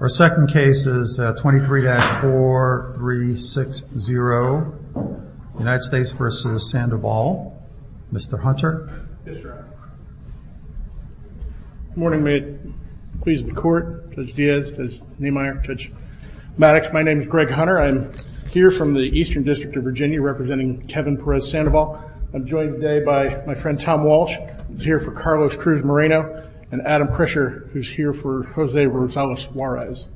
Our second case is 23-4360, United States v. Sandoval, Mr. Hunter. Good morning, may it please the court, Judge Diaz, Judge Nehmeyer, Judge Maddox, my name is Greg Hunter. I'm here from the Eastern District of Virginia representing Kevin Perez Sandoval. I'm joined today by my friend Tom Walsh, who's here for Carlos Cruz Moreno, and Adam Krischer, who's here for Jose Rosales Juarez.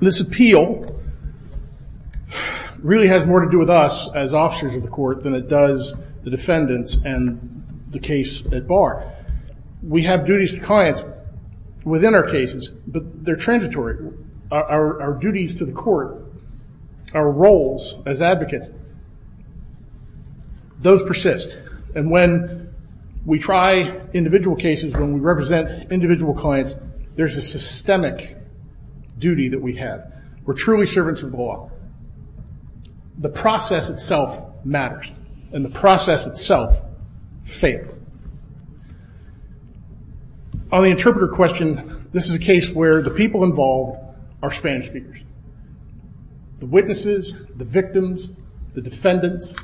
This appeal really has more to do with us as officers of the court than it does the defendants and the case at bar. We have duties to clients within our cases, but they're transitory. Our duties to the court, our roles as advocates, those persist. And when we try individual cases, when we represent individual clients, there's a systemic duty that we have. We're truly servants of law. The process itself matters, and the process itself failed. On the interpreter question, this is a case where the people involved are Spanish speakers. The witnesses, the victims, the defendants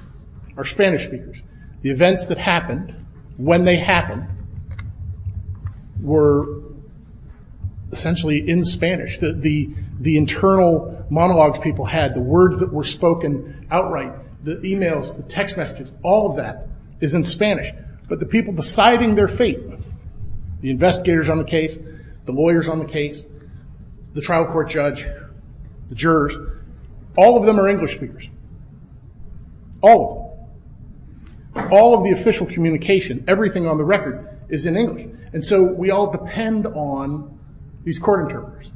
are Spanish speakers. The events that happened, when they happened, were essentially in Spanish. The internal monologues people had, the words that were spoken outright, the e-mails, the text messages, all of that is in Spanish. But the people deciding their fate, the investigators on the case, the lawyers on the case, the trial court judge, the jurors, all of them are English speakers. All of them. All of the official communication, everything on the record is in English. And so we all depend on these court interpreters.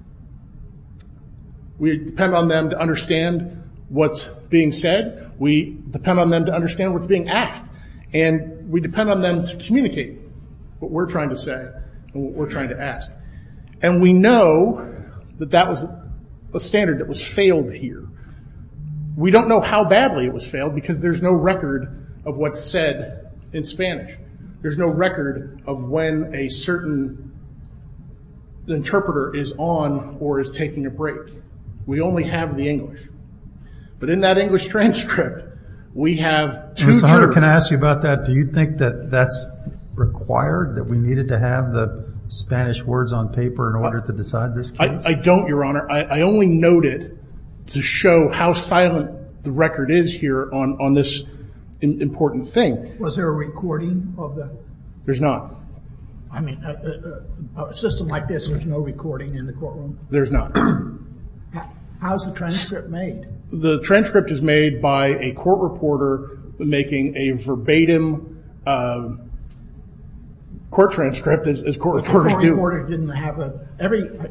We depend on them to understand what's being said. We depend on them to understand what's being asked. And we depend on them to communicate what we're trying to say and what we're trying to ask. And we know that that was a standard that was failed here. We don't know how badly it was failed because there's no record of what's said in Spanish. There's no record of when a certain interpreter is on or is taking a break. We only have the English. But in that English transcript, we have two terms. Your Honor, can I ask you about that? Do you think that that's required, that we needed to have the Spanish words on paper in order to decide this case? I don't, Your Honor. I only noted to show how silent the record is here on this important thing. Was there a recording of that? There's not. I mean, a system like this, there's no recording in the courtroom? There's not. How is the transcript made? The transcript is made by a court reporter making a verbatim court transcript, as court reporters do.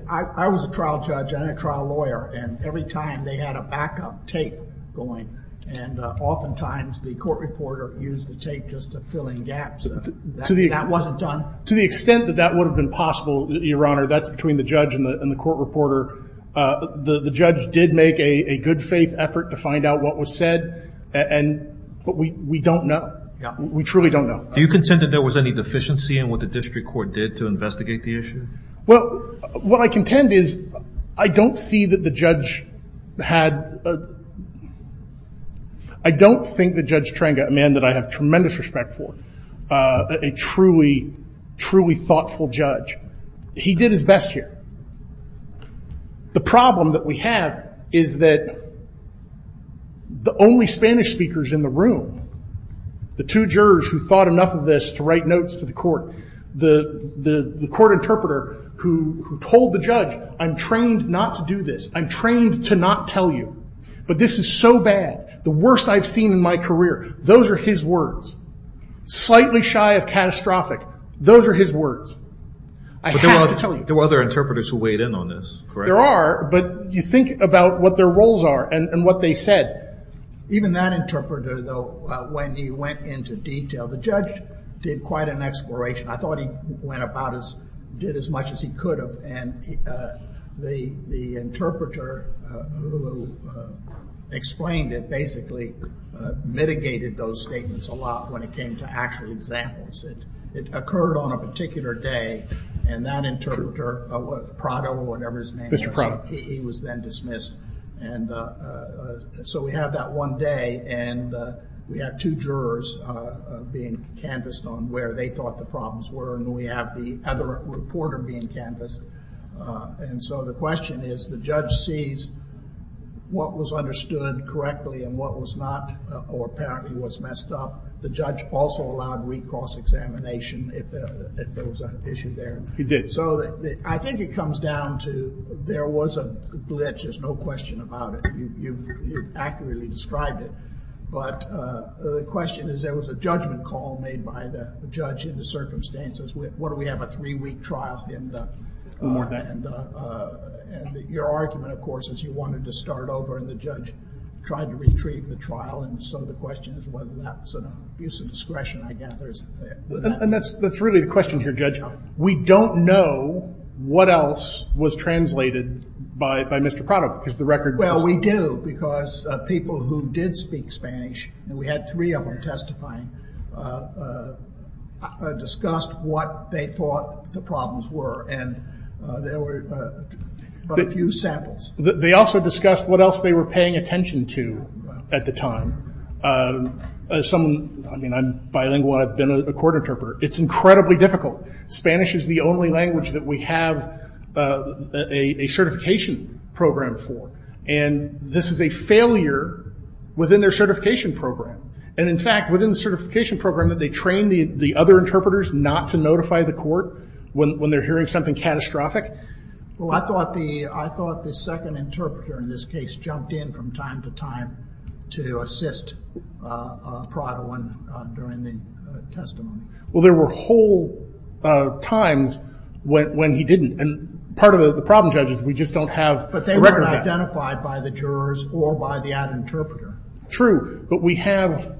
I was a trial judge and a trial lawyer, and every time they had a backup tape going. And oftentimes the court reporter used the tape just to fill in gaps. That wasn't done? To the extent that that would have been possible, Your Honor, that's between the judge and the court reporter. The judge did make a good faith effort to find out what was said, but we don't know. Yeah. We truly don't know. Do you contend that there was any deficiency in what the district court did to investigate the issue? Well, what I contend is I don't see that the judge had ‑‑ I don't think that Judge Trenga, a man that I have tremendous respect for, a truly, truly thoughtful judge, he did his best here. The problem that we have is that the only Spanish speakers in the room, the two jurors who thought enough of this to write notes to the court, the court interpreter who told the judge, I'm trained not to do this, I'm trained to not tell you, but this is so bad, the worst I've seen in my career, those are his words. Slightly shy of catastrophic, those are his words. I have to tell you. There were other interpreters who weighed in on this, correct? There are, but you think about what their roles are and what they said. Even that interpreter, though, when he went into detail, the judge did quite an exploration. I thought he went about his ‑‑ did as much as he could have, and the interpreter who explained it basically mitigated those statements a lot when it came to actual examples. It occurred on a particular day, and that interpreter, Prado or whatever his name was, he was then dismissed, and so we have that one day, and we have two jurors being canvassed on where they thought the problems were, and we have the other reporter being canvassed, and so the question is the judge sees what was understood correctly and what was not, or apparently was messed up. The judge also allowed recross examination if there was an issue there. He did. So I think it comes down to there was a glitch, there's no question about it. You've accurately described it, but the question is there was a judgment call made by the judge in the circumstances. What do we have, a three‑week trial? More than that. And your argument, of course, is you wanted to start over, and the judge tried to retrieve the trial, and so the question is whether that's an abuse of discretion, I gather. And that's really the question here, Judge. We don't know what else was translated by Mr. Prado. Well, we do, because people who did speak Spanish, and we had three of them testifying, discussed what they thought the problems were, and there were quite a few samples. They also discussed what else they were paying attention to at the time. As someone, I mean, I'm bilingual, I've been a court interpreter. It's incredibly difficult. Spanish is the only language that we have a certification program for, and this is a failure within their certification program. And, in fact, within the certification program, they trained the other interpreters not to notify the court when they're hearing something catastrophic. Well, I thought the second interpreter in this case jumped in from time to time to assist Prado in doing the testimony. Well, there were whole times when he didn't, and part of the problem, Judge, is we just don't have the record of that. But they weren't identified by the jurors or by that interpreter. True, but we have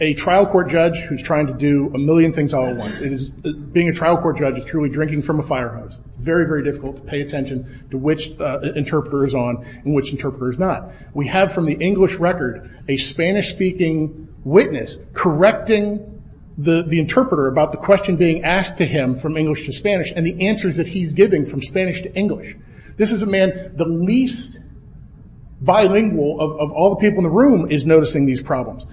a trial court judge who's trying to do a million things all at once. Being a trial court judge is truly drinking from a fire hose. Very, very difficult to pay attention to which interpreter is on and which interpreter is not. We have, from the English record, a Spanish-speaking witness correcting the interpreter about the question being asked to him from English to Spanish and the answers that he's giving from Spanish to English. This is a man, the least bilingual of all the people in the room, is noticing these problems.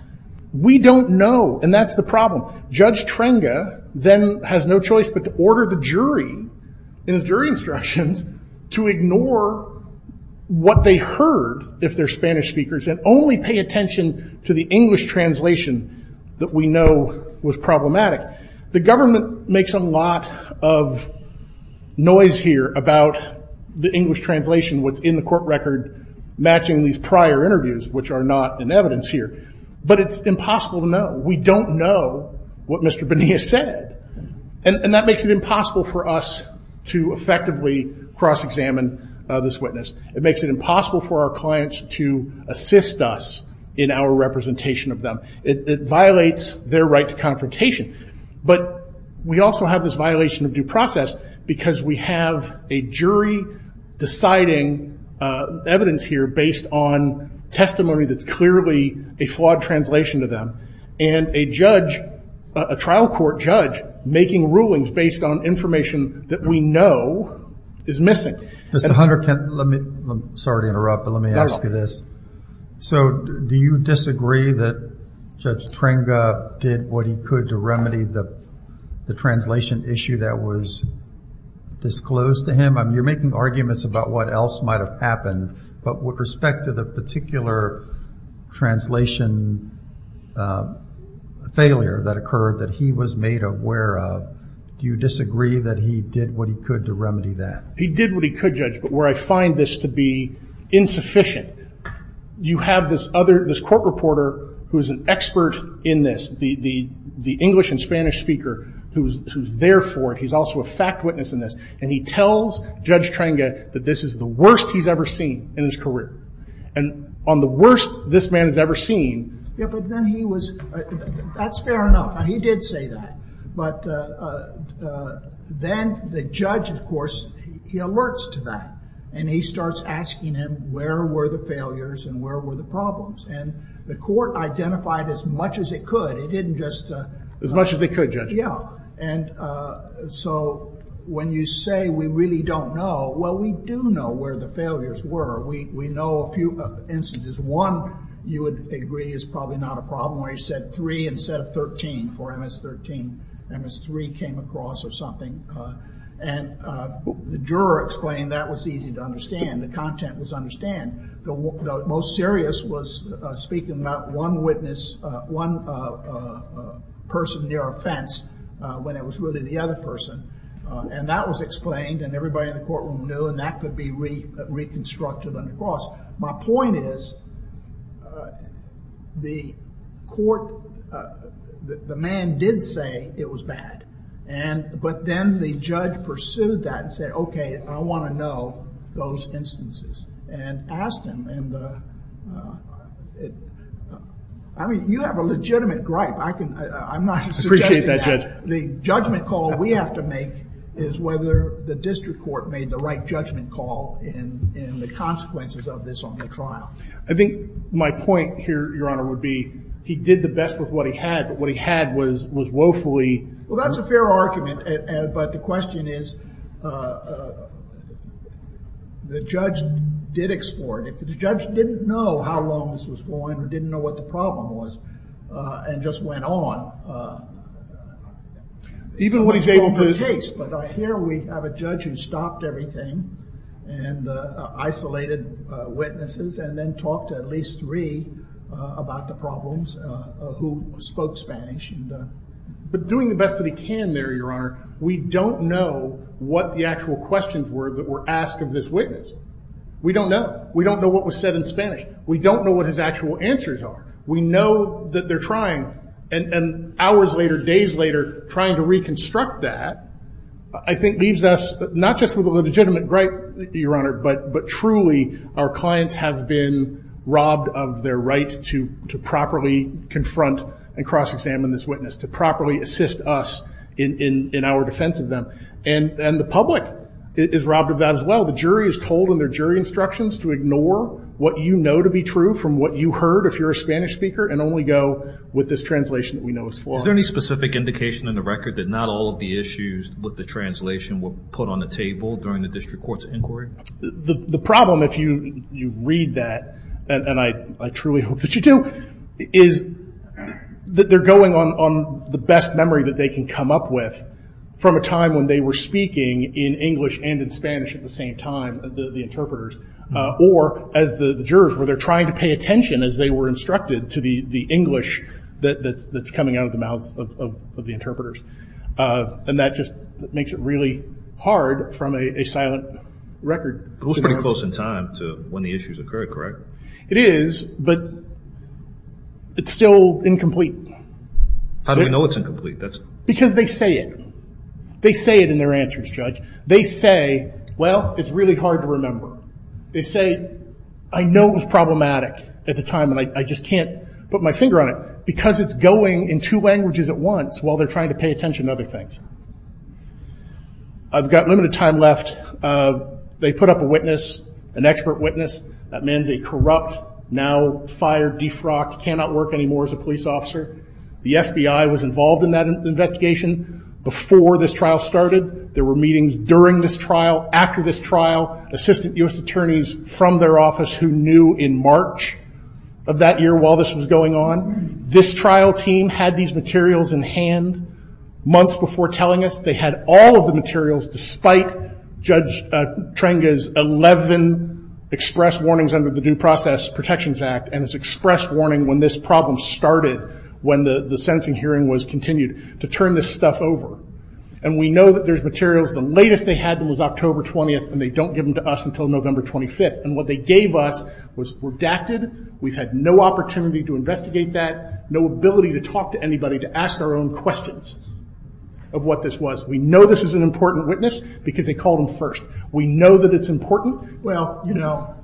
We don't know, and that's the problem. Judge Trenga then has no choice but to order the jury, in his jury instructions, to ignore what they heard, if they're Spanish speakers, and only pay attention to the English translation that we know was problematic. The government makes a lot of noise here about the English translation, what's in the court record matching these prior interviews, which are not in evidence here. But it's impossible to know. We don't know what Mr. Bonilla said, and that makes it impossible for us to effectively cross-examine this witness. It makes it impossible for our clients to assist us in our representation of them. It violates their right to confrontation. But we also have this violation of due process because we have a jury deciding evidence here based on testimony that's clearly a flawed translation to them, and a trial court judge making rulings based on information that we know is missing. Mr. Hunter, can I ask you this? So do you disagree that Judge Trenga did what he could to remedy the translation issue that was disclosed to him? You're making arguments about what else might have happened, but with respect to the particular translation failure that occurred that he was made aware of, do you disagree that he did what he could to remedy that? He did what he could, Judge, but where I find this to be insufficient, you have this court reporter who is an expert in this, the English and Spanish speaker, who's there for it, he's also a fact witness in this, and he tells Judge Trenga that this is the worst he's ever seen in his career. And on the worst this man has ever seen... Yeah, but then he was... that's fair enough. He did say that. But then the judge, of course, he alerts to that, and he starts asking him where were the failures and where were the problems. And the court identified as much as it could. As much as it could, Judge. Yeah, and so when you say we really don't know, well, we do know where the failures were. We know a few instances. One you would agree is probably not a problem where he said three instead of 13 for MS-13. MS-3 came across or something, and the juror explained that was easy to understand. The content was understand. The most serious was speaking about one witness, one person near a fence, when it was really the other person. And that was explained, and everybody in the courtroom knew, and that could be reconstructed under cost. My point is the court... the man did say it was bad. But then the judge pursued that and said, okay, I want to know those instances. And asked him in the... I mean, you have a legitimate gripe. I'm not suggesting that... I appreciate that, Judge. The judgment call we have to make is whether the district court made the right judgment call in the consequences of this on the trial. I think my point here, Your Honor, would be he did the best with what he had, but what he had was woefully... Well, that's a fair argument, but the question is the judge did explore it. If the judge didn't know how long this was going or didn't know what the problem was and just went on... Even what he's able to... But here we have a judge who stopped everything and isolated witnesses and then talked to at least three about the problems who spoke Spanish. But doing the best that he can there, Your Honor, we don't know what the actual questions were that were asked of this witness. We don't know. We don't know what was said in Spanish. We don't know what his actual answers are. We know that they're trying, and hours later, days later, trying to reconstruct that, I think leaves us not just with a legitimate gripe, Your Honor, but truly our clients have been robbed of their right to properly confront and cross-examine this witness, to properly assist us in our defense of them. And the public is robbed of that as well. The jury is told in their jury instructions to ignore what you know to be true from what you heard if you're a Spanish speaker and only go with this translation that we know is flawed. Is there any specific indication in the record that not all of the issues with the translation were put on the table during the district court's inquiry? The problem, if you read that, and I truly hope that you do, is that they're going on the best memory that they can come up with from a time when they were speaking in English and in Spanish at the same time, the interpreters, or as the jurors, where they're trying to pay attention as they were instructed to the English that's coming out of the mouths of the interpreters. And that just makes it really hard from a silent record. But it was pretty close in time to when the issues occurred, correct? It is, but it's still incomplete. How do we know it's incomplete? Because they say it. They say it in their answers, Judge. They say, well, it's really hard to remember. They say, I know it was problematic at the time, and I just can't put my finger on it. Because it's going in two languages at once while they're trying to pay attention to other things. I've got limited time left. They put up a witness, an expert witness. That man's a corrupt, now fired, defrocked, cannot work anymore as a police officer. The FBI was involved in that investigation before this trial started. There were meetings during this trial, after this trial, assistant U.S. attorneys from their office who knew in March of that year while this was going on. This trial team had these materials in hand months before telling us. They had all of the materials despite Judge Trenga's 11 express warnings under the Due Process Protections Act and his express warning when this problem started when the sentencing hearing was continued, to turn this stuff over. And we know that there's materials. The latest they had them was October 20th, and they don't give them to us until November 25th. And what they gave us was redacted. We've had no opportunity to investigate that, no ability to talk to anybody to ask our own questions of what this was. We know this is an important witness because they called him first. We know that it's important. Well, you know,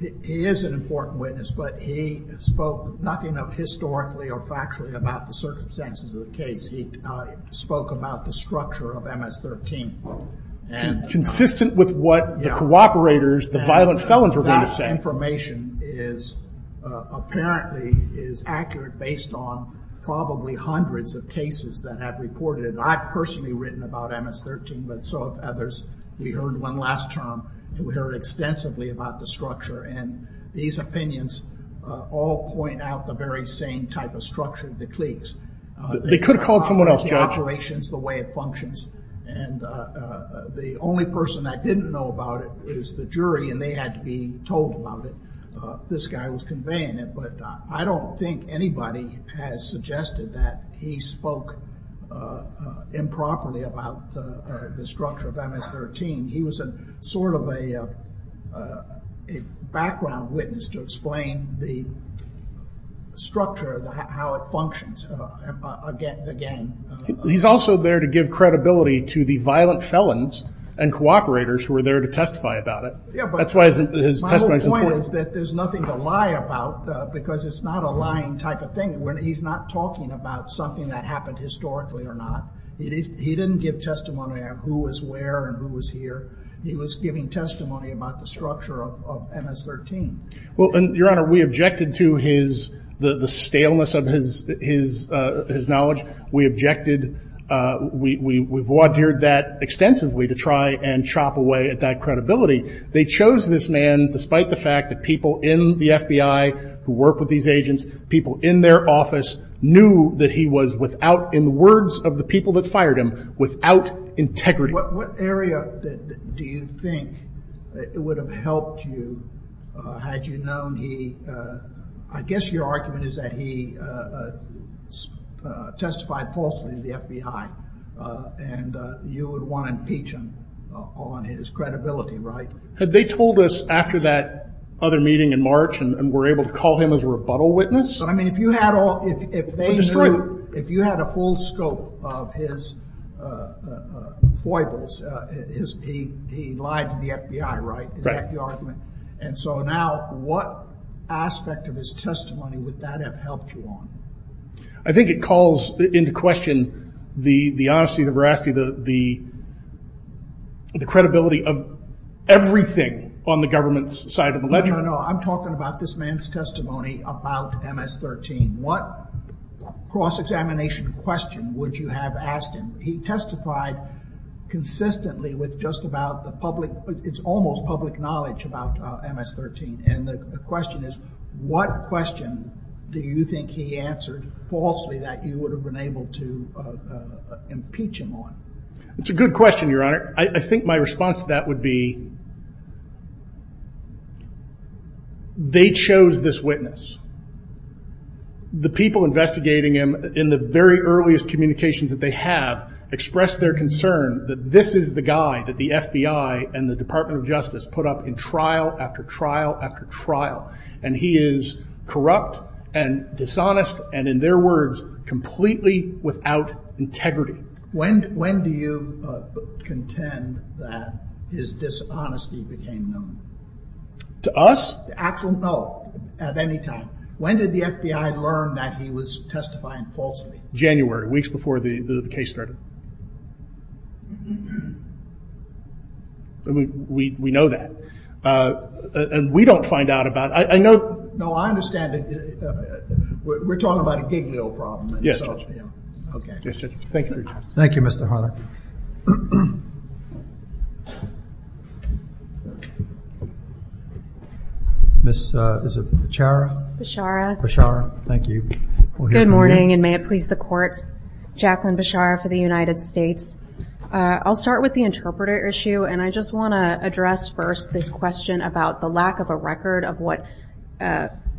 he is an important witness, but he spoke nothing of historically or factually about the circumstances of the case. He spoke about the structure of MS-13. Consistent with what the cooperators, the violent felons were going to say. That information apparently is accurate based on probably hundreds of cases that have reported it. I've personally written about MS-13, but so have others. We heard one last term, and we heard extensively about the structure. And these opinions all point out the very same type of structure of the cliques. They could have called someone else, Judge. The operations, the way it functions. And the only person that didn't know about it is the jury, and they had to be told about it. This guy was conveying it. But I don't think anybody has suggested that he spoke improperly about the structure of MS-13. He was sort of a background witness to explain the structure, how it functions, again. He's also there to give credibility to the violent felons and cooperators who were there to testify about it. That's why his testimony is important. My whole point is that there's nothing to lie about, because it's not a lying type of thing. He's not talking about something that happened historically or not. He didn't give testimony of who was where and who was here. He was giving testimony about the structure of MS-13. Well, Your Honor, we objected to the staleness of his knowledge. We objected. We've wardered that extensively to try and chop away at that credibility. They chose this man despite the fact that people in the FBI who work with these agents, people in their office, knew that he was without, in the words of the people that fired him, without integrity. What area do you think would have helped you had you known he, I guess your argument is that he testified falsely to the FBI, and you would want to impeach him on his credibility, right? Had they told us after that other meeting in March and were able to call him as a rebuttal witness? I mean, if you had a full scope of his foibles, he lied to the FBI, right? Right. Is that the argument? And so now what aspect of his testimony would that have helped you on? I think it calls into question the honesty, the veracity, the credibility of everything on the government's side of the ledger. No, no, no. I'm talking about this man's testimony about MS-13. What cross-examination question would you have asked him? He testified consistently with just about the public, it's almost public knowledge about MS-13, and the question is what question do you think he answered falsely that you would have been able to impeach him on? It's a good question, Your Honor. I think my response to that would be they chose this witness. The people investigating him in the very earliest communications that they have expressed their concern that this is the guy that the FBI and the Department of Justice put up in trial after trial after trial, and he is corrupt and dishonest, and in their words, completely without integrity. When do you contend that his dishonesty became known? To us? No, at any time. When did the FBI learn that he was testifying falsely? January, weeks before the case started. We know that, and we don't find out about it. No, I understand. We're talking about a gig deal problem. Yes, Judge. Okay. Thank you. Thank you, Mr. Hunter. Ms. Bichara? Bichara. Bichara, thank you. Good morning, and may it please the Court. Jacqueline Bichara for the United States. I'll start with the interpreter issue, and I just want to address first this question about the lack of a record of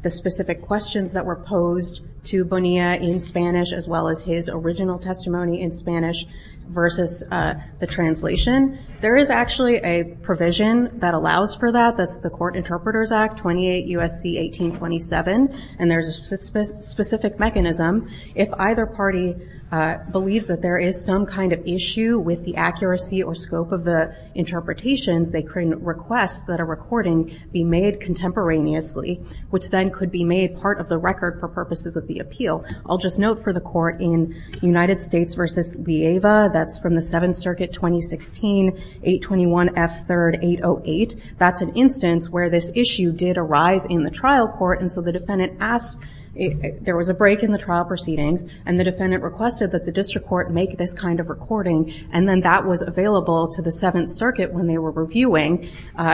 the specific questions that were posed to Bonilla in Spanish as well as his original testimony in Spanish versus the translation. There is actually a provision that allows for that. That's the Court Interpreters Act, 28 U.S.C. 1827, and there's a specific mechanism. If either party believes that there is some kind of issue with the accuracy or scope of the interpretations, they can request that a recording be made contemporaneously, which then could be made part of the record for purposes of the appeal. I'll just note for the Court, in United States versus Lieva, that's from the Seventh Circuit, 2016, 821 F. 3rd. 808. That's an instance where this issue did arise in the trial court, and so the defendant asked, there was a break in the trial proceedings, and the defendant requested that the district court make this kind of recording, and then that was available to the Seventh Circuit when they were reviewing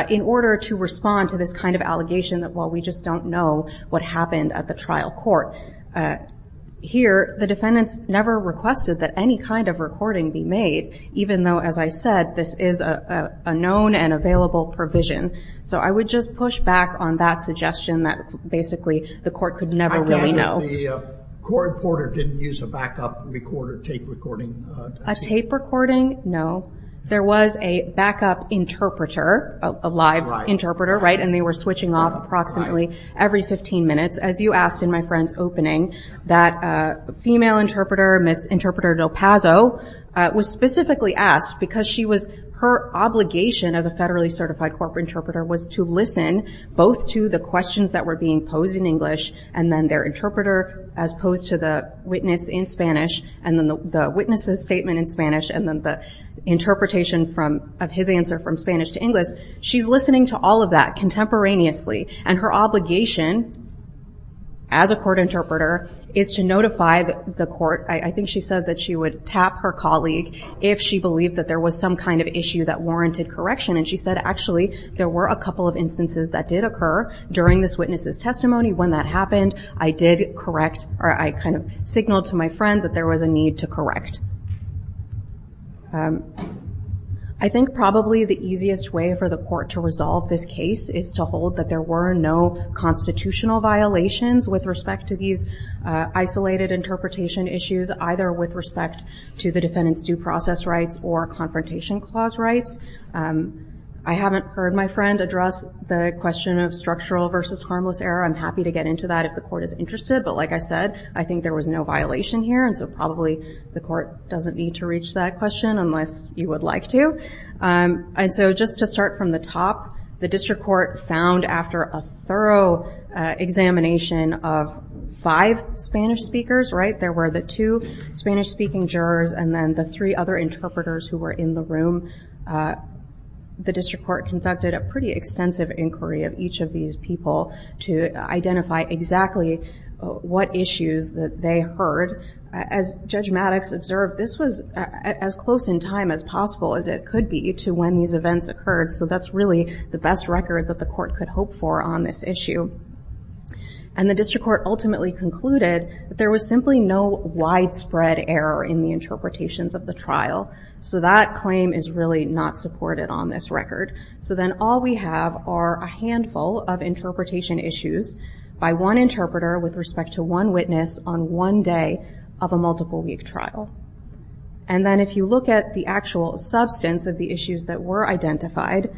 in order to respond to this kind of allegation that, well, we just don't know what happened at the trial court. Here, the defendants never requested that any kind of recording be made, even though, as I said, this is a known and available provision. So I would just push back on that suggestion that, basically, the Court could never really know. Again, the court reporter didn't use a backup tape recording. A tape recording? No. There was a backup interpreter, a live interpreter, and they were switching off approximately every 15 minutes. As you asked in my friend's opening, that female interpreter, Ms. Interpreter Del Pazzo, was specifically asked because her obligation as a federally certified corporate interpreter was to listen both to the questions that were being posed in English and then their interpreter as opposed to the witness in Spanish and then the witness's statement in Spanish and then the interpretation of his answer from Spanish to English. She's listening to all of that contemporaneously, and her obligation as a court interpreter is to notify the court. I think she said that she would tap her colleague if she believed that there was some kind of issue that warranted correction, and she said, actually, there were a couple of instances that did occur during this witness's testimony. When that happened, I did correct, or I kind of signaled to my friend that there was a need to correct. I think probably the easiest way for the court to resolve this case is to hold that there were no constitutional violations with respect to these isolated interpretation issues, either with respect to the defendant's due process rights or confrontation clause rights. I haven't heard my friend address the question of structural versus harmless error. I'm happy to get into that if the court is interested, but like I said, I think there was no violation here, and so probably the court doesn't need to reach that question unless you would like to. Just to start from the top, the district court found after a thorough examination of five Spanish speakers, there were the two Spanish-speaking jurors and then the three other interpreters who were in the room. The district court conducted a pretty extensive inquiry of each of these people to identify exactly what issues that they heard. As Judge Maddox observed, this was as close in time as possible as it could be to when these events occurred, so that's really the best record that the court could hope for on this issue. The district court ultimately concluded that there was simply no widespread error in the interpretations of the trial, so that claim is really not supported on this record. Then all we have are a handful of interpretation issues by one interpreter with respect to one witness on one day of a multiple-week trial. Then if you look at the actual substance of the issues that were identified,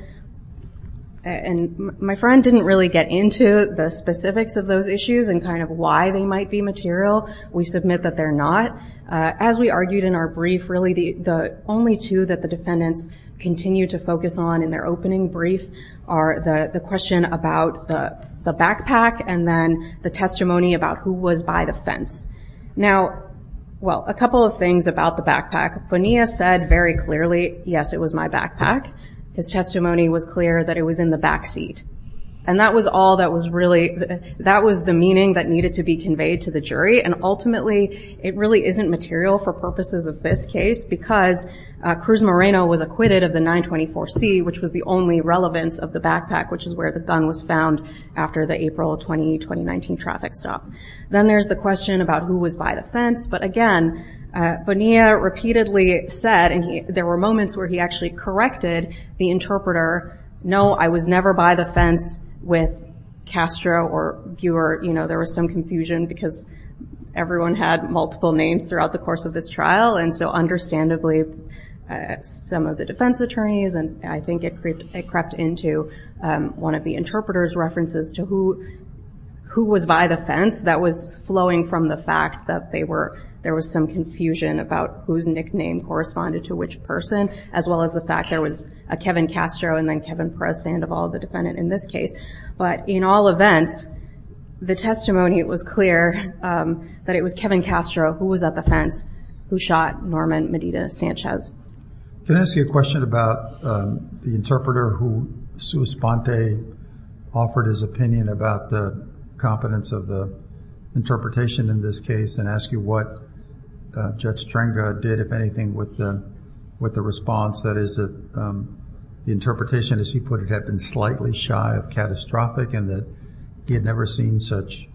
and my friend didn't really get into the specifics of those issues and kind of why they might be material. We submit that they're not. As we argued in our brief, really the only two that the defendants continue to focus on in their opening brief are the question about the backpack and then the testimony about who was by the fence. A couple of things about the backpack. Bonilla said very clearly, yes, it was my backpack. His testimony was clear that it was in the back seat. That was the meaning that needed to be conveyed to the jury, and ultimately it really isn't material for purposes of this case because Cruz Moreno was acquitted of the 924C, which was the only relevance of the backpack, which is where the gun was found after the April 20, 2019 traffic stop. Then there's the question about who was by the fence, but again, Bonilla repeatedly said, and there were moments where he actually corrected the interpreter, no, I was never by the fence with Castro or Guer. There was some confusion because everyone had multiple names throughout the course of this trial, and so understandably some of the defense attorneys, and I think it crept into one of the interpreter's references to who was by the fence. That was flowing from the fact that there was some confusion about whose nickname corresponded to which person, as well as the fact there was a Kevin Castro and then Kevin Perez-Sandoval, the defendant in this case. But in all events, the testimony was clear that it was Kevin Castro who was at the fence, who shot Norman Medina-Sanchez. Can I ask you a question about the interpreter who, sui sponte, offered his opinion about the competence of the interpretation in this case, and ask you what Judge Trenga did, if anything, with the response, that is that the interpretation, as he put it, had been slightly shy of catastrophic, and that he had never seen such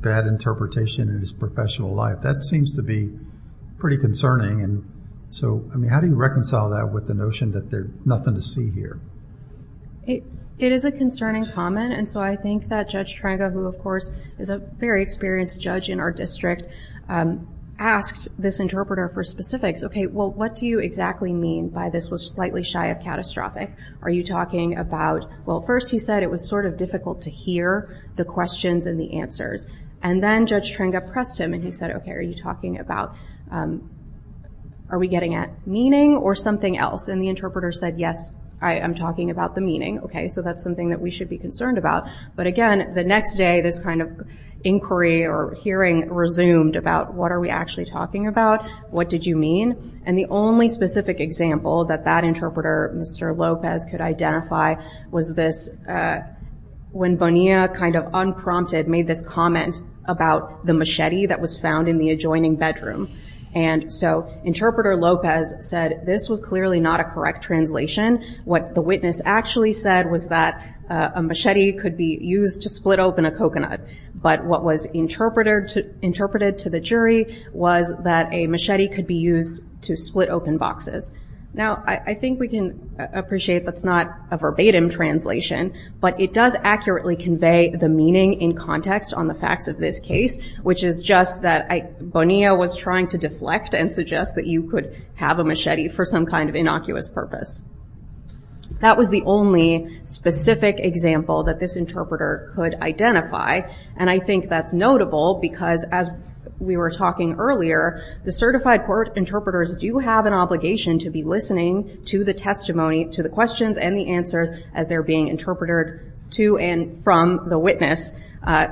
bad interpretation in his professional life. That seems to be pretty concerning. So, I mean, how do you reconcile that with the notion that there's nothing to see here? It is a concerning comment, and so I think that Judge Trenga, who, of course, is a very experienced judge in our district, asked this interpreter for specifics. Okay, well, what do you exactly mean by this was slightly shy of catastrophic? Are you talking about, well, first he said it was sort of difficult to hear the questions and the answers, and then Judge Trenga pressed him, and he said, okay, are you talking about, are we getting at meaning or something else? And the interpreter said, yes, I am talking about the meaning. Okay, so that's something that we should be concerned about. But, again, the next day this kind of inquiry or hearing resumed about what are we actually talking about? What did you mean? And the only specific example that that interpreter, Mr. Lopez, could identify was this, when Bonilla kind of unprompted made this comment about the machete that was found in the adjoining bedroom. And so Interpreter Lopez said this was clearly not a correct translation. What the witness actually said was that a machete could be used to split open a coconut. But what was interpreted to the jury was that a machete could be used to split open boxes. Now, I think we can appreciate that's not a verbatim translation, but it does accurately convey the meaning in context on the facts of this case, which is just that Bonilla was trying to deflect and suggest that you could have a machete for some kind of innocuous purpose. That was the only specific example that this interpreter could identify, and I think that's notable because, as we were talking earlier, the certified court interpreters do have an obligation to be listening to the testimony, to the questions and the answers as they're being interpreted to and from the witness.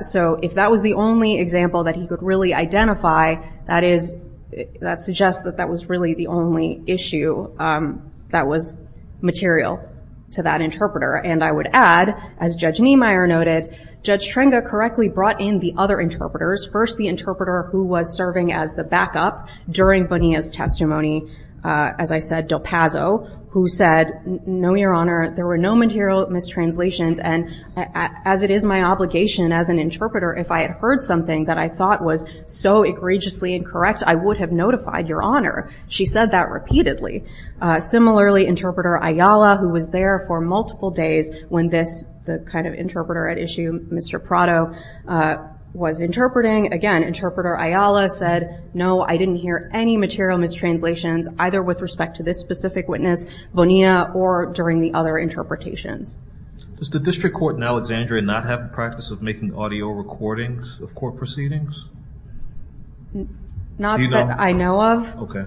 So if that was the only example that he could really identify, that suggests that that was really the only issue that was material to that interpreter. And I would add, as Judge Niemeyer noted, Judge Trenga correctly brought in the other interpreters, first the interpreter who was serving as the backup during Bonilla's testimony, as I said, del Paso, who said, no, Your Honor, there were no material mistranslations, and as it is my obligation as an interpreter, if I had heard something that I thought was so egregiously incorrect, I would have notified Your Honor. She said that repeatedly. Similarly, Interpreter Ayala, who was there for multiple days when this kind of interpreter at issue, Mr. Prado, was interpreting, again, Interpreter Ayala said, no, I didn't hear any material mistranslations, either with respect to this specific witness, Bonilla, or during the other interpretations. Does the district court in Alexandria not have the practice of making audio recordings of court proceedings? Not that I know of. Okay.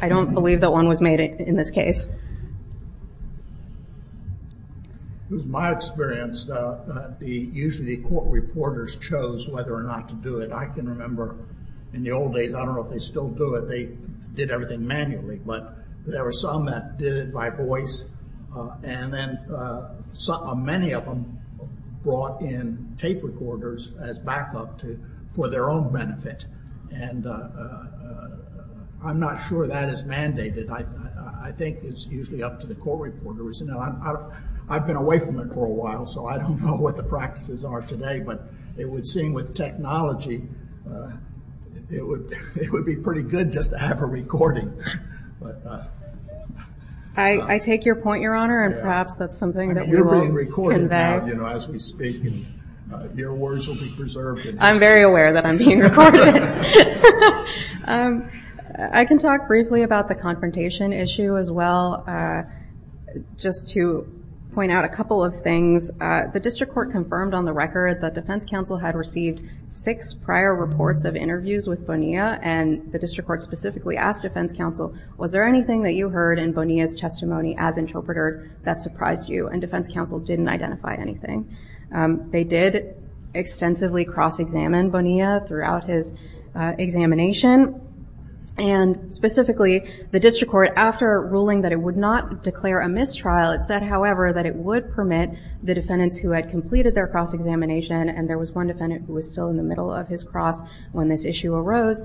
I don't believe that one was made in this case. It was my experience that usually the court reporters chose whether or not to do it. I can remember in the old days, I don't know if they still do it. They did everything manually, but there were some that did it by voice, and then many of them brought in tape recorders as backup for their own benefit, and I'm not sure that is mandated. I think it's usually up to the court reporters. I've been away from it for a while, so I don't know what the practices are today, but it would seem with technology it would be pretty good just to have a recording. I take your point, Your Honor, and perhaps that's something that we will convey. You're being recorded now as we speak, and your words will be preserved. I'm very aware that I'm being recorded. I can talk briefly about the confrontation issue as well. Just to point out a couple of things, the district court confirmed on the record that defense counsel had received six prior reports of interviews with Bonilla, and the district court specifically asked defense counsel, was there anything that you heard in Bonilla's testimony as interpreter that surprised you? And defense counsel didn't identify anything. They did extensively cross-examine Bonilla throughout his examination, and specifically the district court, after ruling that it would not declare a mistrial, it said, however, that it would permit the defendants who had completed their cross-examination, and there was one defendant who was still in the middle of his cross when this issue arose.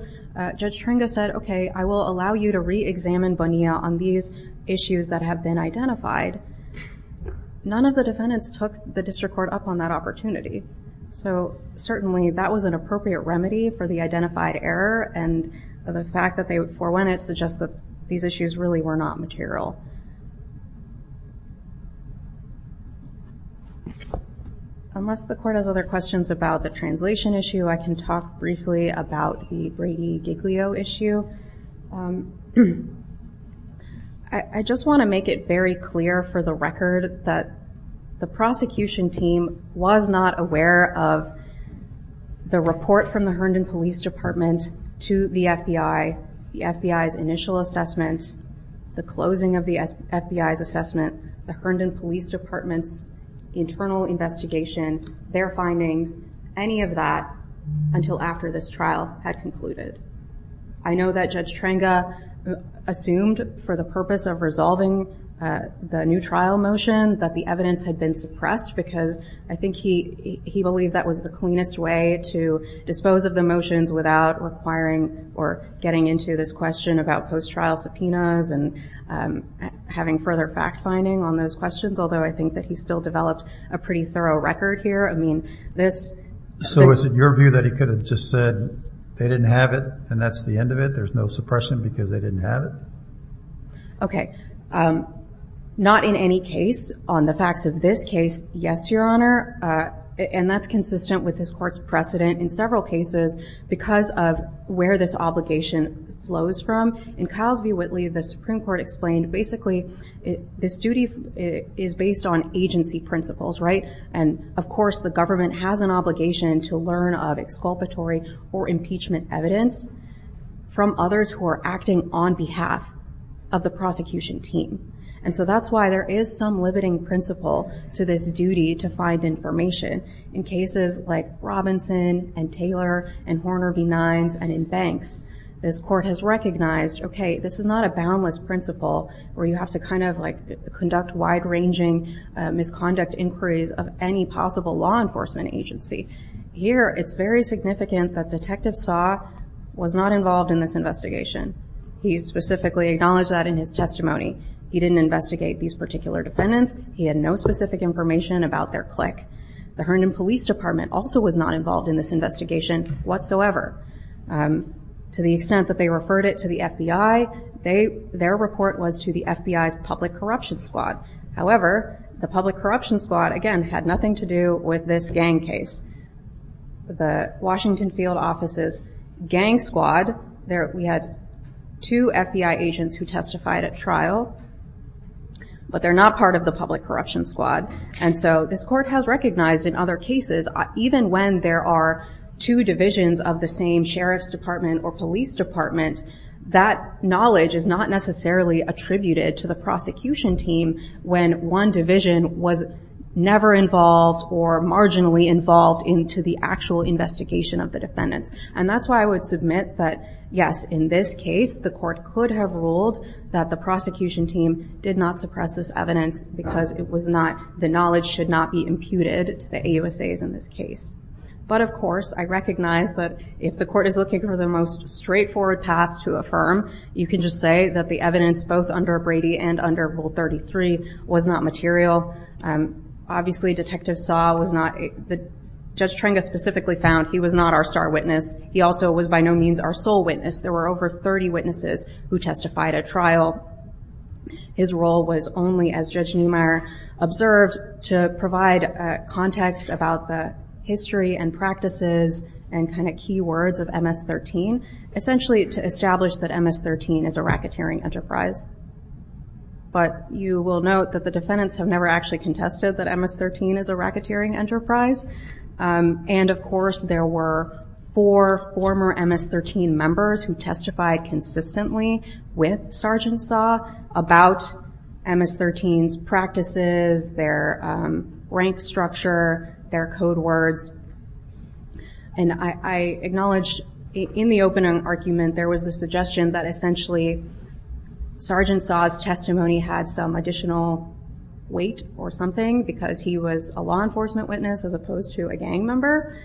Judge Tringo said, okay, I will allow you to re-examine Bonilla on these issues that have been identified. None of the defendants took the district court up on that opportunity, so certainly that was an appropriate remedy for the identified error, and the fact that they forewent it suggests that these issues really were not material. Unless the court has other questions about the translation issue, I can talk briefly about the Brady-Giglio issue. I just want to make it very clear for the record that the prosecution team was not aware of the report from the Herndon Police Department to the FBI, the FBI's initial assessment, the closing of the FBI's assessment, the Herndon Police Department's internal investigation, their findings, any of that until after this trial had concluded. I know that Judge Tringo assumed for the purpose of resolving the new trial motion that the evidence had been suppressed because I think he believed that was the cleanest way to dispose of the motions without requiring or getting into this question about post-trial subpoenas and having further fact-finding on those questions, although I think that he still developed a pretty thorough record here. So is it your view that he could have just said they didn't have it and that's the end of it? There's no suppression because they didn't have it? Okay. Not in any case. On the facts of this case, yes, Your Honor, and that's consistent with this court's precedent in several cases because of where this obligation flows from. In Ciles v. Whitley, the Supreme Court explained basically this duty is based on agency principles, right? And, of course, the government has an obligation to learn of exculpatory or impeachment evidence from others who are acting on behalf of the prosecution team. And so that's why there is some limiting principle to this duty to find information. In cases like Robinson and Taylor and Horner v. Nines and in Banks, this court has recognized, okay, this is not a boundless principle where you have to conduct wide-ranging misconduct inquiries of any possible law enforcement agency. Here, it's very significant that Detective Saw was not involved in this investigation. He specifically acknowledged that in his testimony. He didn't investigate these particular defendants. He had no specific information about their clique. The Herndon Police Department also was not involved in this investigation whatsoever. To the extent that they referred it to the FBI, their report was to the FBI's public corruption squad. However, the public corruption squad, again, had nothing to do with this gang case. The Washington Field Office's gang squad, we had two FBI agents who testified at trial, but they're not part of the public corruption squad. And so this court has recognized in other cases, even when there are two divisions of the same sheriff's department or police department, that knowledge is not necessarily attributed to the prosecution team when one division was never involved or marginally involved into the actual investigation of the defendants. And that's why I would submit that, yes, in this case, the court could have ruled that the prosecution team did not suppress this evidence because the knowledge should not be imputed to the AUSAs in this case. But, of course, I recognize that if the court is looking for the most straightforward path to affirm, you can just say that the evidence, both under Brady and under Rule 33, was not material. Obviously, Detective Saw was not, Judge Trenga specifically found he was not our star witness. He also was by no means our sole witness. There were over 30 witnesses who testified at trial. His role was only, as Judge Neumeier observed, to provide context about the history and practices and kind of key words of MS-13, essentially to establish that MS-13 is a racketeering enterprise. But you will note that the defendants have never actually contested that MS-13 is a racketeering enterprise. And, of course, there were four former MS-13 members who testified consistently with Sergeant Saw about MS-13's practices, their rank structure, their code words. And I acknowledge in the opening argument, there was the suggestion that essentially Sergeant Saw's testimony had some additional weight or something because he was a law enforcement witness as opposed to a gang member.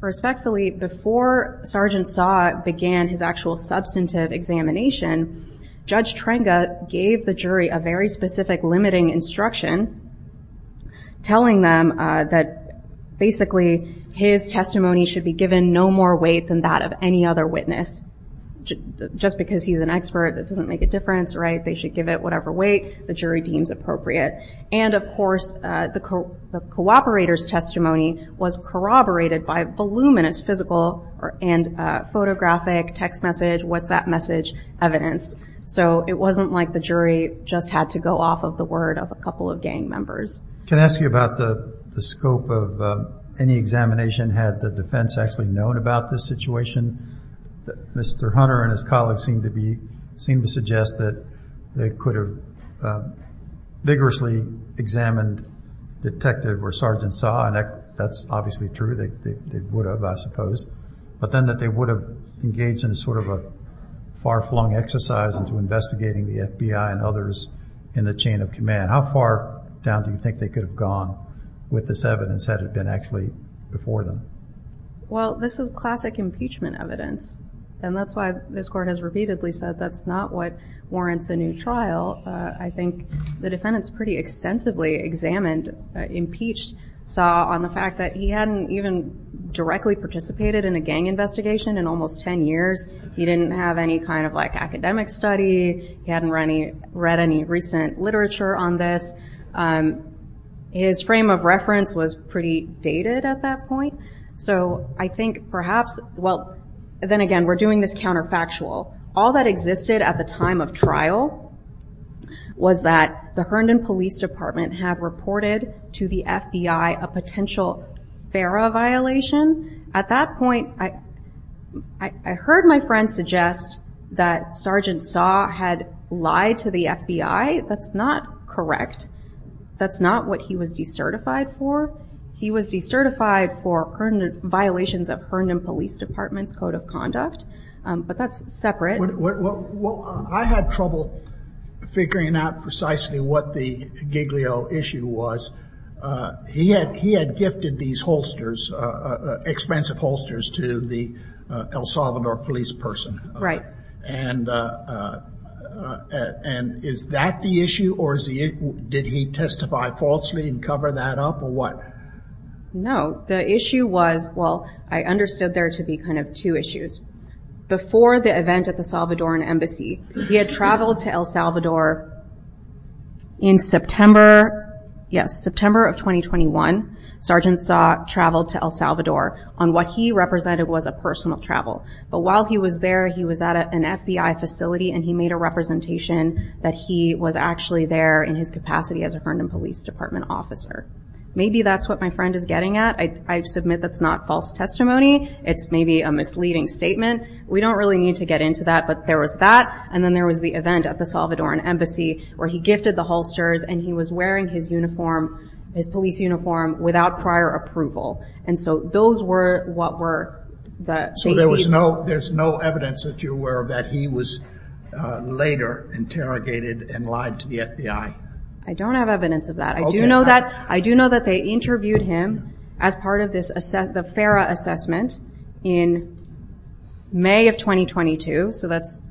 Respectfully, before Sergeant Saw began his actual substantive examination, Judge Trenga gave the jury a very specific limiting instruction, telling them that basically his testimony should be given no more weight than that of any other witness. Just because he's an expert, that doesn't make a difference, right? They should give it whatever weight the jury deems appropriate. And, of course, the cooperator's testimony was corroborated by voluminous physical and photographic text message WhatsApp message evidence. So it wasn't like the jury just had to go off of the word of a couple of gang members. Can I ask you about the scope of any examination? Had the defense actually known about this situation? Mr. Hunter and his colleagues seem to suggest that they could have vigorously examined Detective or Sergeant Saw. That's obviously true. They would have, I suppose. But then that they would have engaged in sort of a far-flung exercise into investigating the FBI and others in the chain of command. How far down do you think they could have gone with this evidence had it been actually before them? Well, this is classic impeachment evidence. And that's why this court has repeatedly said that's not what warrants a new trial. I think the defendants pretty extensively examined, impeached, Saw on the fact that he hadn't even directly participated in a gang investigation in almost 10 years. He didn't have any kind of, like, academic study. He hadn't read any recent literature on this. His frame of reference was pretty dated at that point. So I think perhaps, well, then again, we're doing this counterfactual. All that existed at the time of trial was that the Herndon Police Department had reported to the FBI a potential FARA violation. At that point, I heard my friend suggest that Sergeant Saw had lied to the FBI. That's not correct. That's not what he was decertified for. He was decertified for violations of Herndon Police Department's code of conduct. But that's separate. Well, I had trouble figuring out precisely what the Giglio issue was. He had gifted these holsters, expensive holsters, to the El Salvador police person. Right. And is that the issue, or did he testify falsely and cover that up, or what? No. The issue was, well, I understood there to be kind of two issues. Before the event at the Salvadoran embassy, he had traveled to El Salvador in September, yes, September of 2021. Sergeant Saw traveled to El Salvador on what he represented was a personal travel. But while he was there, he was at an FBI facility, and he made a representation that he was actually there in his capacity as a Herndon Police Department officer. Maybe that's what my friend is getting at. I submit that's not false testimony. It's maybe a misleading statement. We don't really need to get into that. But there was that, and then there was the event at the Salvadoran embassy where he gifted the holsters, and he was wearing his uniform, his police uniform, without prior approval. And so those were what were the... So there's no evidence that you're aware of that he was later interrogated and lied to the FBI? I don't have evidence of that. I do know that they interviewed him as part of the FARA assessment in May of 2022. So that's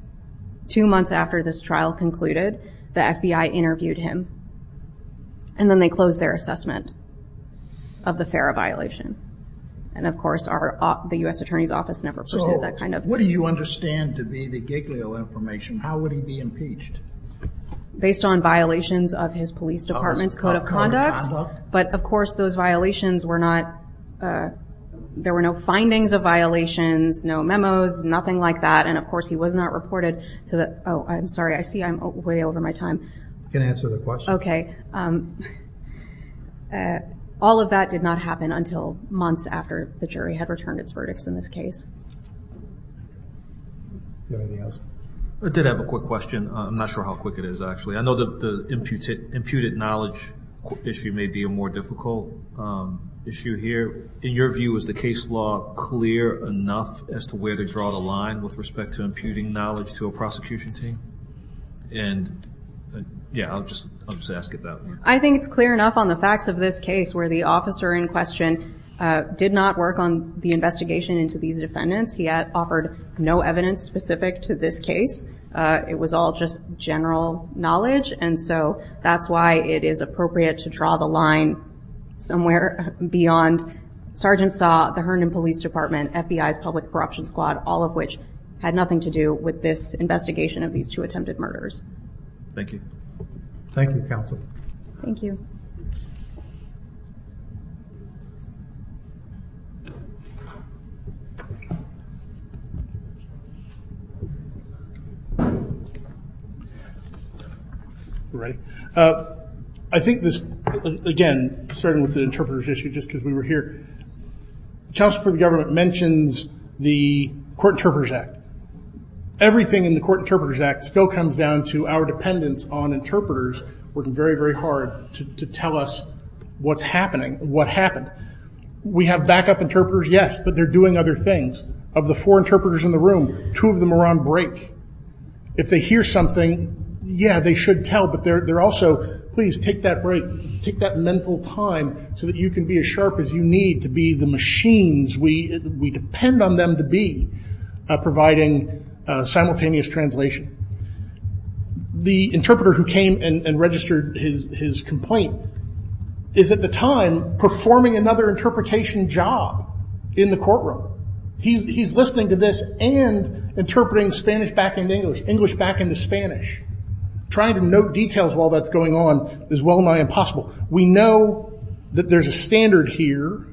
two months after this trial concluded. The FBI interviewed him, and then they closed their assessment of the FARA violation. And, of course, the U.S. Attorney's Office never pursued that kind of... So what do you understand to be the Giglio information? How would he be impeached? Based on violations of his police department's code of conduct. But, of course, those violations were not... There were no findings of violations, no memos, nothing like that. And, of course, he was not reported to the... Oh, I'm sorry, I see I'm way over my time. You can answer the question. Okay. All of that did not happen until months after the jury had returned its verdicts in this case. Do you have anything else? I did have a quick question. I'm not sure how quick it is, actually. I know the imputed knowledge issue may be a more difficult issue here. In your view, is the case law clear enough as to where to draw the line with respect to imputing knowledge to a prosecution team? And, yeah, I'll just ask it that way. I think it's clear enough on the facts of this case, where the officer in question did not work on the investigation into these defendants. He offered no evidence specific to this case. It was all just general knowledge. And so that's why it is appropriate to draw the line somewhere beyond Sergeant Saw, the Herndon Police Department, FBI's Public Corruption Squad, all of which had nothing to do with this investigation of these two attempted murderers. Thank you. Thank you, counsel. Thank you. All right. I think this, again, starting with the interpreters issue, just because we were here, counsel for the government mentions the Court Interpreters Act. Everything in the Court Interpreters Act still comes down to our dependence on interpreters working very, very hard to tell us what's happening, what happened. We have backup interpreters, yes, but they're doing other things. Of the four interpreters in the room, two of them are on break. If they hear something, yeah, they should tell, but they're also, please, take that break. Take that mental time so that you can be as sharp as you need to be the machines we depend on them to be, providing simultaneous translation. The interpreter who came and registered his complaint is, at the time, performing another interpretation job in the courtroom. He's listening to this and interpreting Spanish back into English, English back into Spanish. Trying to note details while that's going on is well and I impossible. We know that there's a standard here.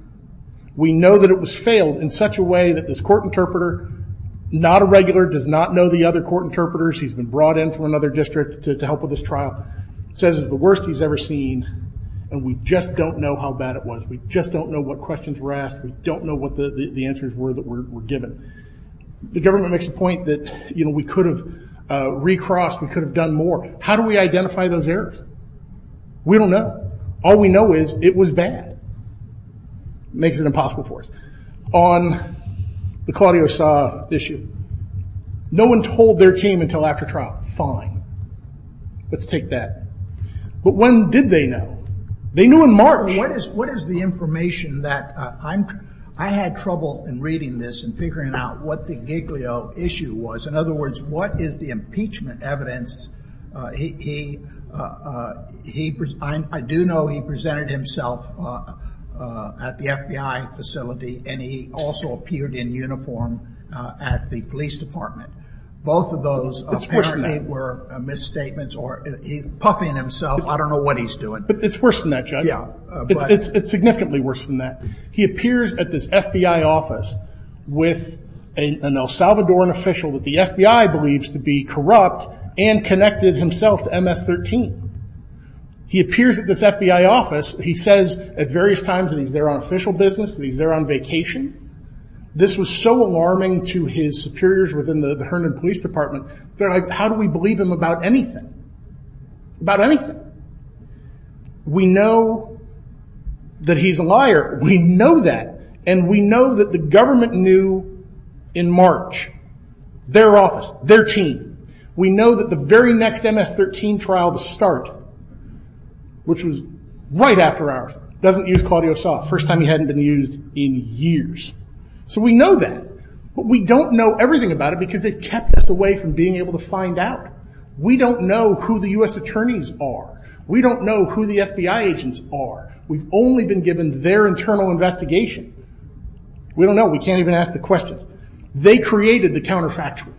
We know that it was failed in such a way that this court interpreter, not a regular, does not know the other court interpreters. He's been brought in from another district to help with this trial. Says it's the worst he's ever seen and we just don't know how bad it was. We just don't know what questions were asked. We don't know what the answers were that were given. The government makes the point that, you know, we could have recrossed. We could have done more. How do we identify those errors? We don't know. All we know is it was bad. Makes it impossible for us. On the Claudio Sa issue, no one told their team until after trial, fine. Let's take that. But when did they know? They knew in March. What is the information that I had trouble in reading this and figuring out what the Giglio issue was? In other words, what is the impeachment evidence? I do know he presented himself at the FBI facility and he also appeared in uniform at the police department. Both of those apparently were misstatements or puffing himself. I don't know what he's doing. It's worse than that, Judge. It's significantly worse than that. He appears at this FBI office with an El Salvadoran official that the FBI believes to be corrupt and connected himself to MS-13. He appears at this FBI office. He says at various times that he's there on official business, that he's there on vacation. This was so alarming to his superiors within the Herndon Police Department. They're like, how do we believe him about anything? About anything. We know that he's a liar. We know that. And we know that the government knew in March. Their office, their team. We know that the very next MS-13 trial to start, which was right after ours, doesn't use Claudio Soft. First time he hadn't been used in years. So we know that. But we don't know everything about it because they've kept us away from being able to find out. We don't know who the U.S. attorneys are. We don't know who the FBI agents are. We've only been given their internal investigation. We don't know. We can't even ask the questions. They created the counterfactual.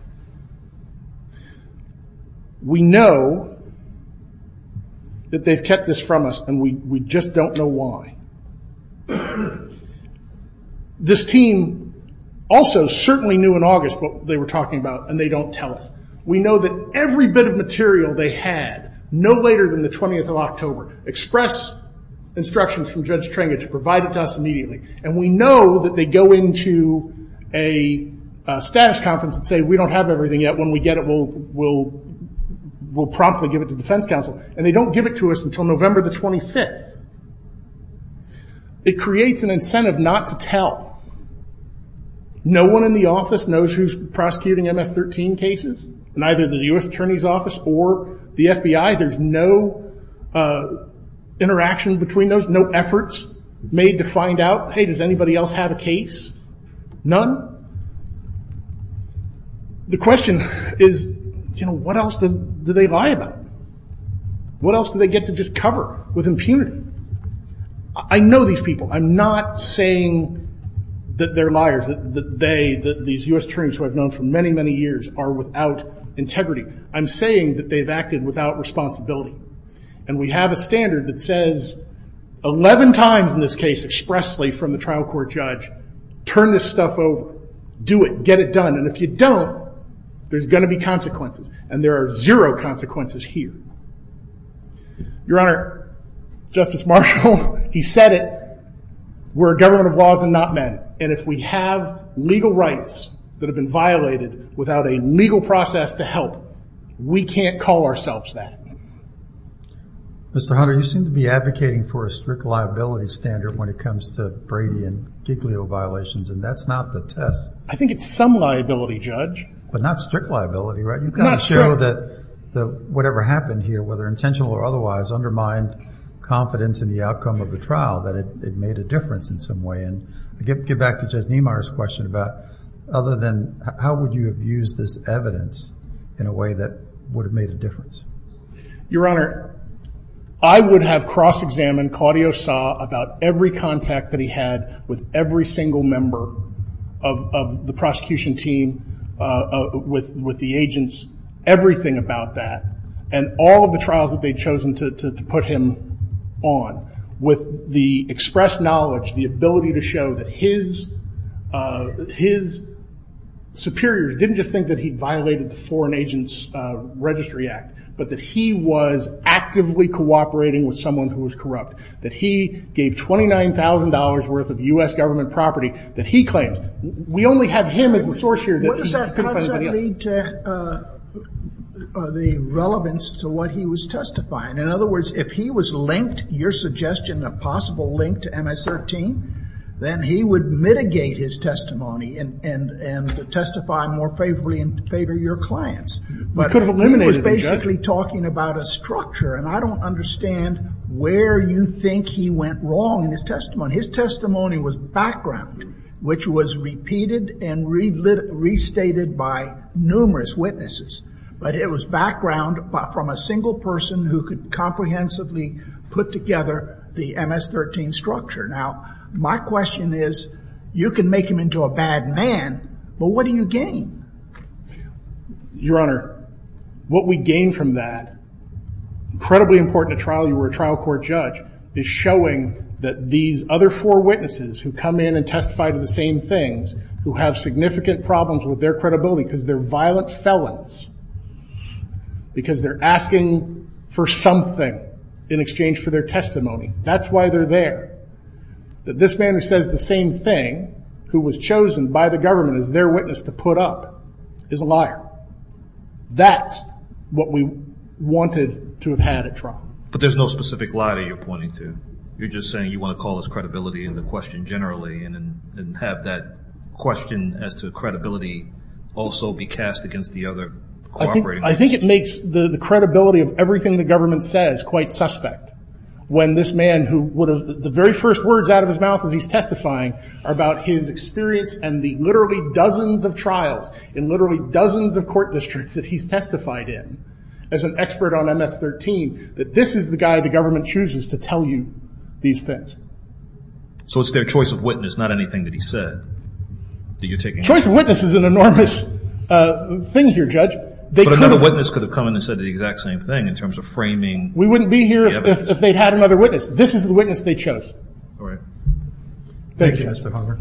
We know that they've kept this from us, and we just don't know why. This team also certainly knew in August what they were talking about, and they don't tell us. We know that every bit of material they had, no later than the 20th of October, express instructions from Judge Tringa to provide it to us immediately. And we know that they go into a status conference and say, we don't have everything yet. When we get it, we'll promptly give it to defense counsel. And they don't give it to us until November the 25th. It creates an incentive not to tell. No one in the office knows who's prosecuting MS-13 cases, neither the U.S. Attorney's Office or the FBI. There's no interaction between those, no efforts made to find out, hey, does anybody else have a case? None. The question is, you know, what else do they lie about? What else do they get to just cover with impunity? I know these people. I'm not saying that they're liars, that they, these U.S. attorneys who I've known for many, many years, are without integrity. I'm saying that they've acted without responsibility. And we have a standard that says 11 times in this case, expressly from the trial court judge, turn this stuff over. Do it. Get it done. And if you don't, there's going to be consequences. And there are zero consequences here. Your Honor, Justice Marshall, he said it. We're a government of laws and not men. And if we have legal rights that have been violated without a legal process to help, we can't call ourselves that. Mr. Hunter, you seem to be advocating for a strict liability standard when it comes to Brady and Giglio violations, and that's not the test. I think it's some liability, Judge. But not strict liability, right? Not strict. You kind of show that whatever happened here, whether intentional or otherwise, undermined confidence in the outcome of the trial, that it made a difference in some way. And to get back to Judge Niemeyer's question about other than how would you have used this evidence in a way that would have made a difference? Your Honor, I would have cross-examined, Claudio saw about every contact that he had with every single member of the prosecution team, with the agents, everything about that, and all of the trials that they'd chosen to put him on. With the expressed knowledge, the ability to show that his superiors didn't just think that he violated the Foreign Agents Registry Act, but that he was actively cooperating with someone who was corrupt, that he gave $29,000 worth of U.S. government property that he claimed. We only have him as the source here. What does that lead to the relevance to what he was testifying? In other words, if he was linked, your suggestion of possible link to MS-13, then he would mitigate his testimony and testify more favorably in favor of your clients. But he was basically talking about a structure, and I don't understand where you think he went wrong in his testimony. His testimony was background, which was repeated and restated by numerous witnesses. But it was background from a single person who could comprehensively put together the MS-13 structure. Now, my question is, you can make him into a bad man, but what do you gain? Your Honor, what we gain from that, incredibly important to trial, you were a trial court judge, is showing that these other four witnesses who come in and testify to the same things, who have significant problems with their credibility because they're violent felons, because they're asking for something in exchange for their testimony. That's why they're there. That this man who says the same thing, who was chosen by the government as their witness to put up, is a liar. That's what we wanted to have had at trial. But there's no specific liar you're pointing to. You're just saying you want to call his credibility into question generally and have that question as to credibility also be cast against the other cooperating witnesses. I think it makes the credibility of everything the government says quite suspect when this man, the very first words out of his mouth as he's testifying are about his experience and the literally dozens of trials in literally dozens of court districts that he's testified in. As an expert on MS-13, that this is the guy the government chooses to tell you these things. So it's their choice of witness, not anything that he said. Choice of witness is an enormous thing here, Judge. But another witness could have come in and said the exact same thing in terms of framing. We wouldn't be here if they'd had another witness. This is the witness they chose. All right. Thank you, Mr. Palmer.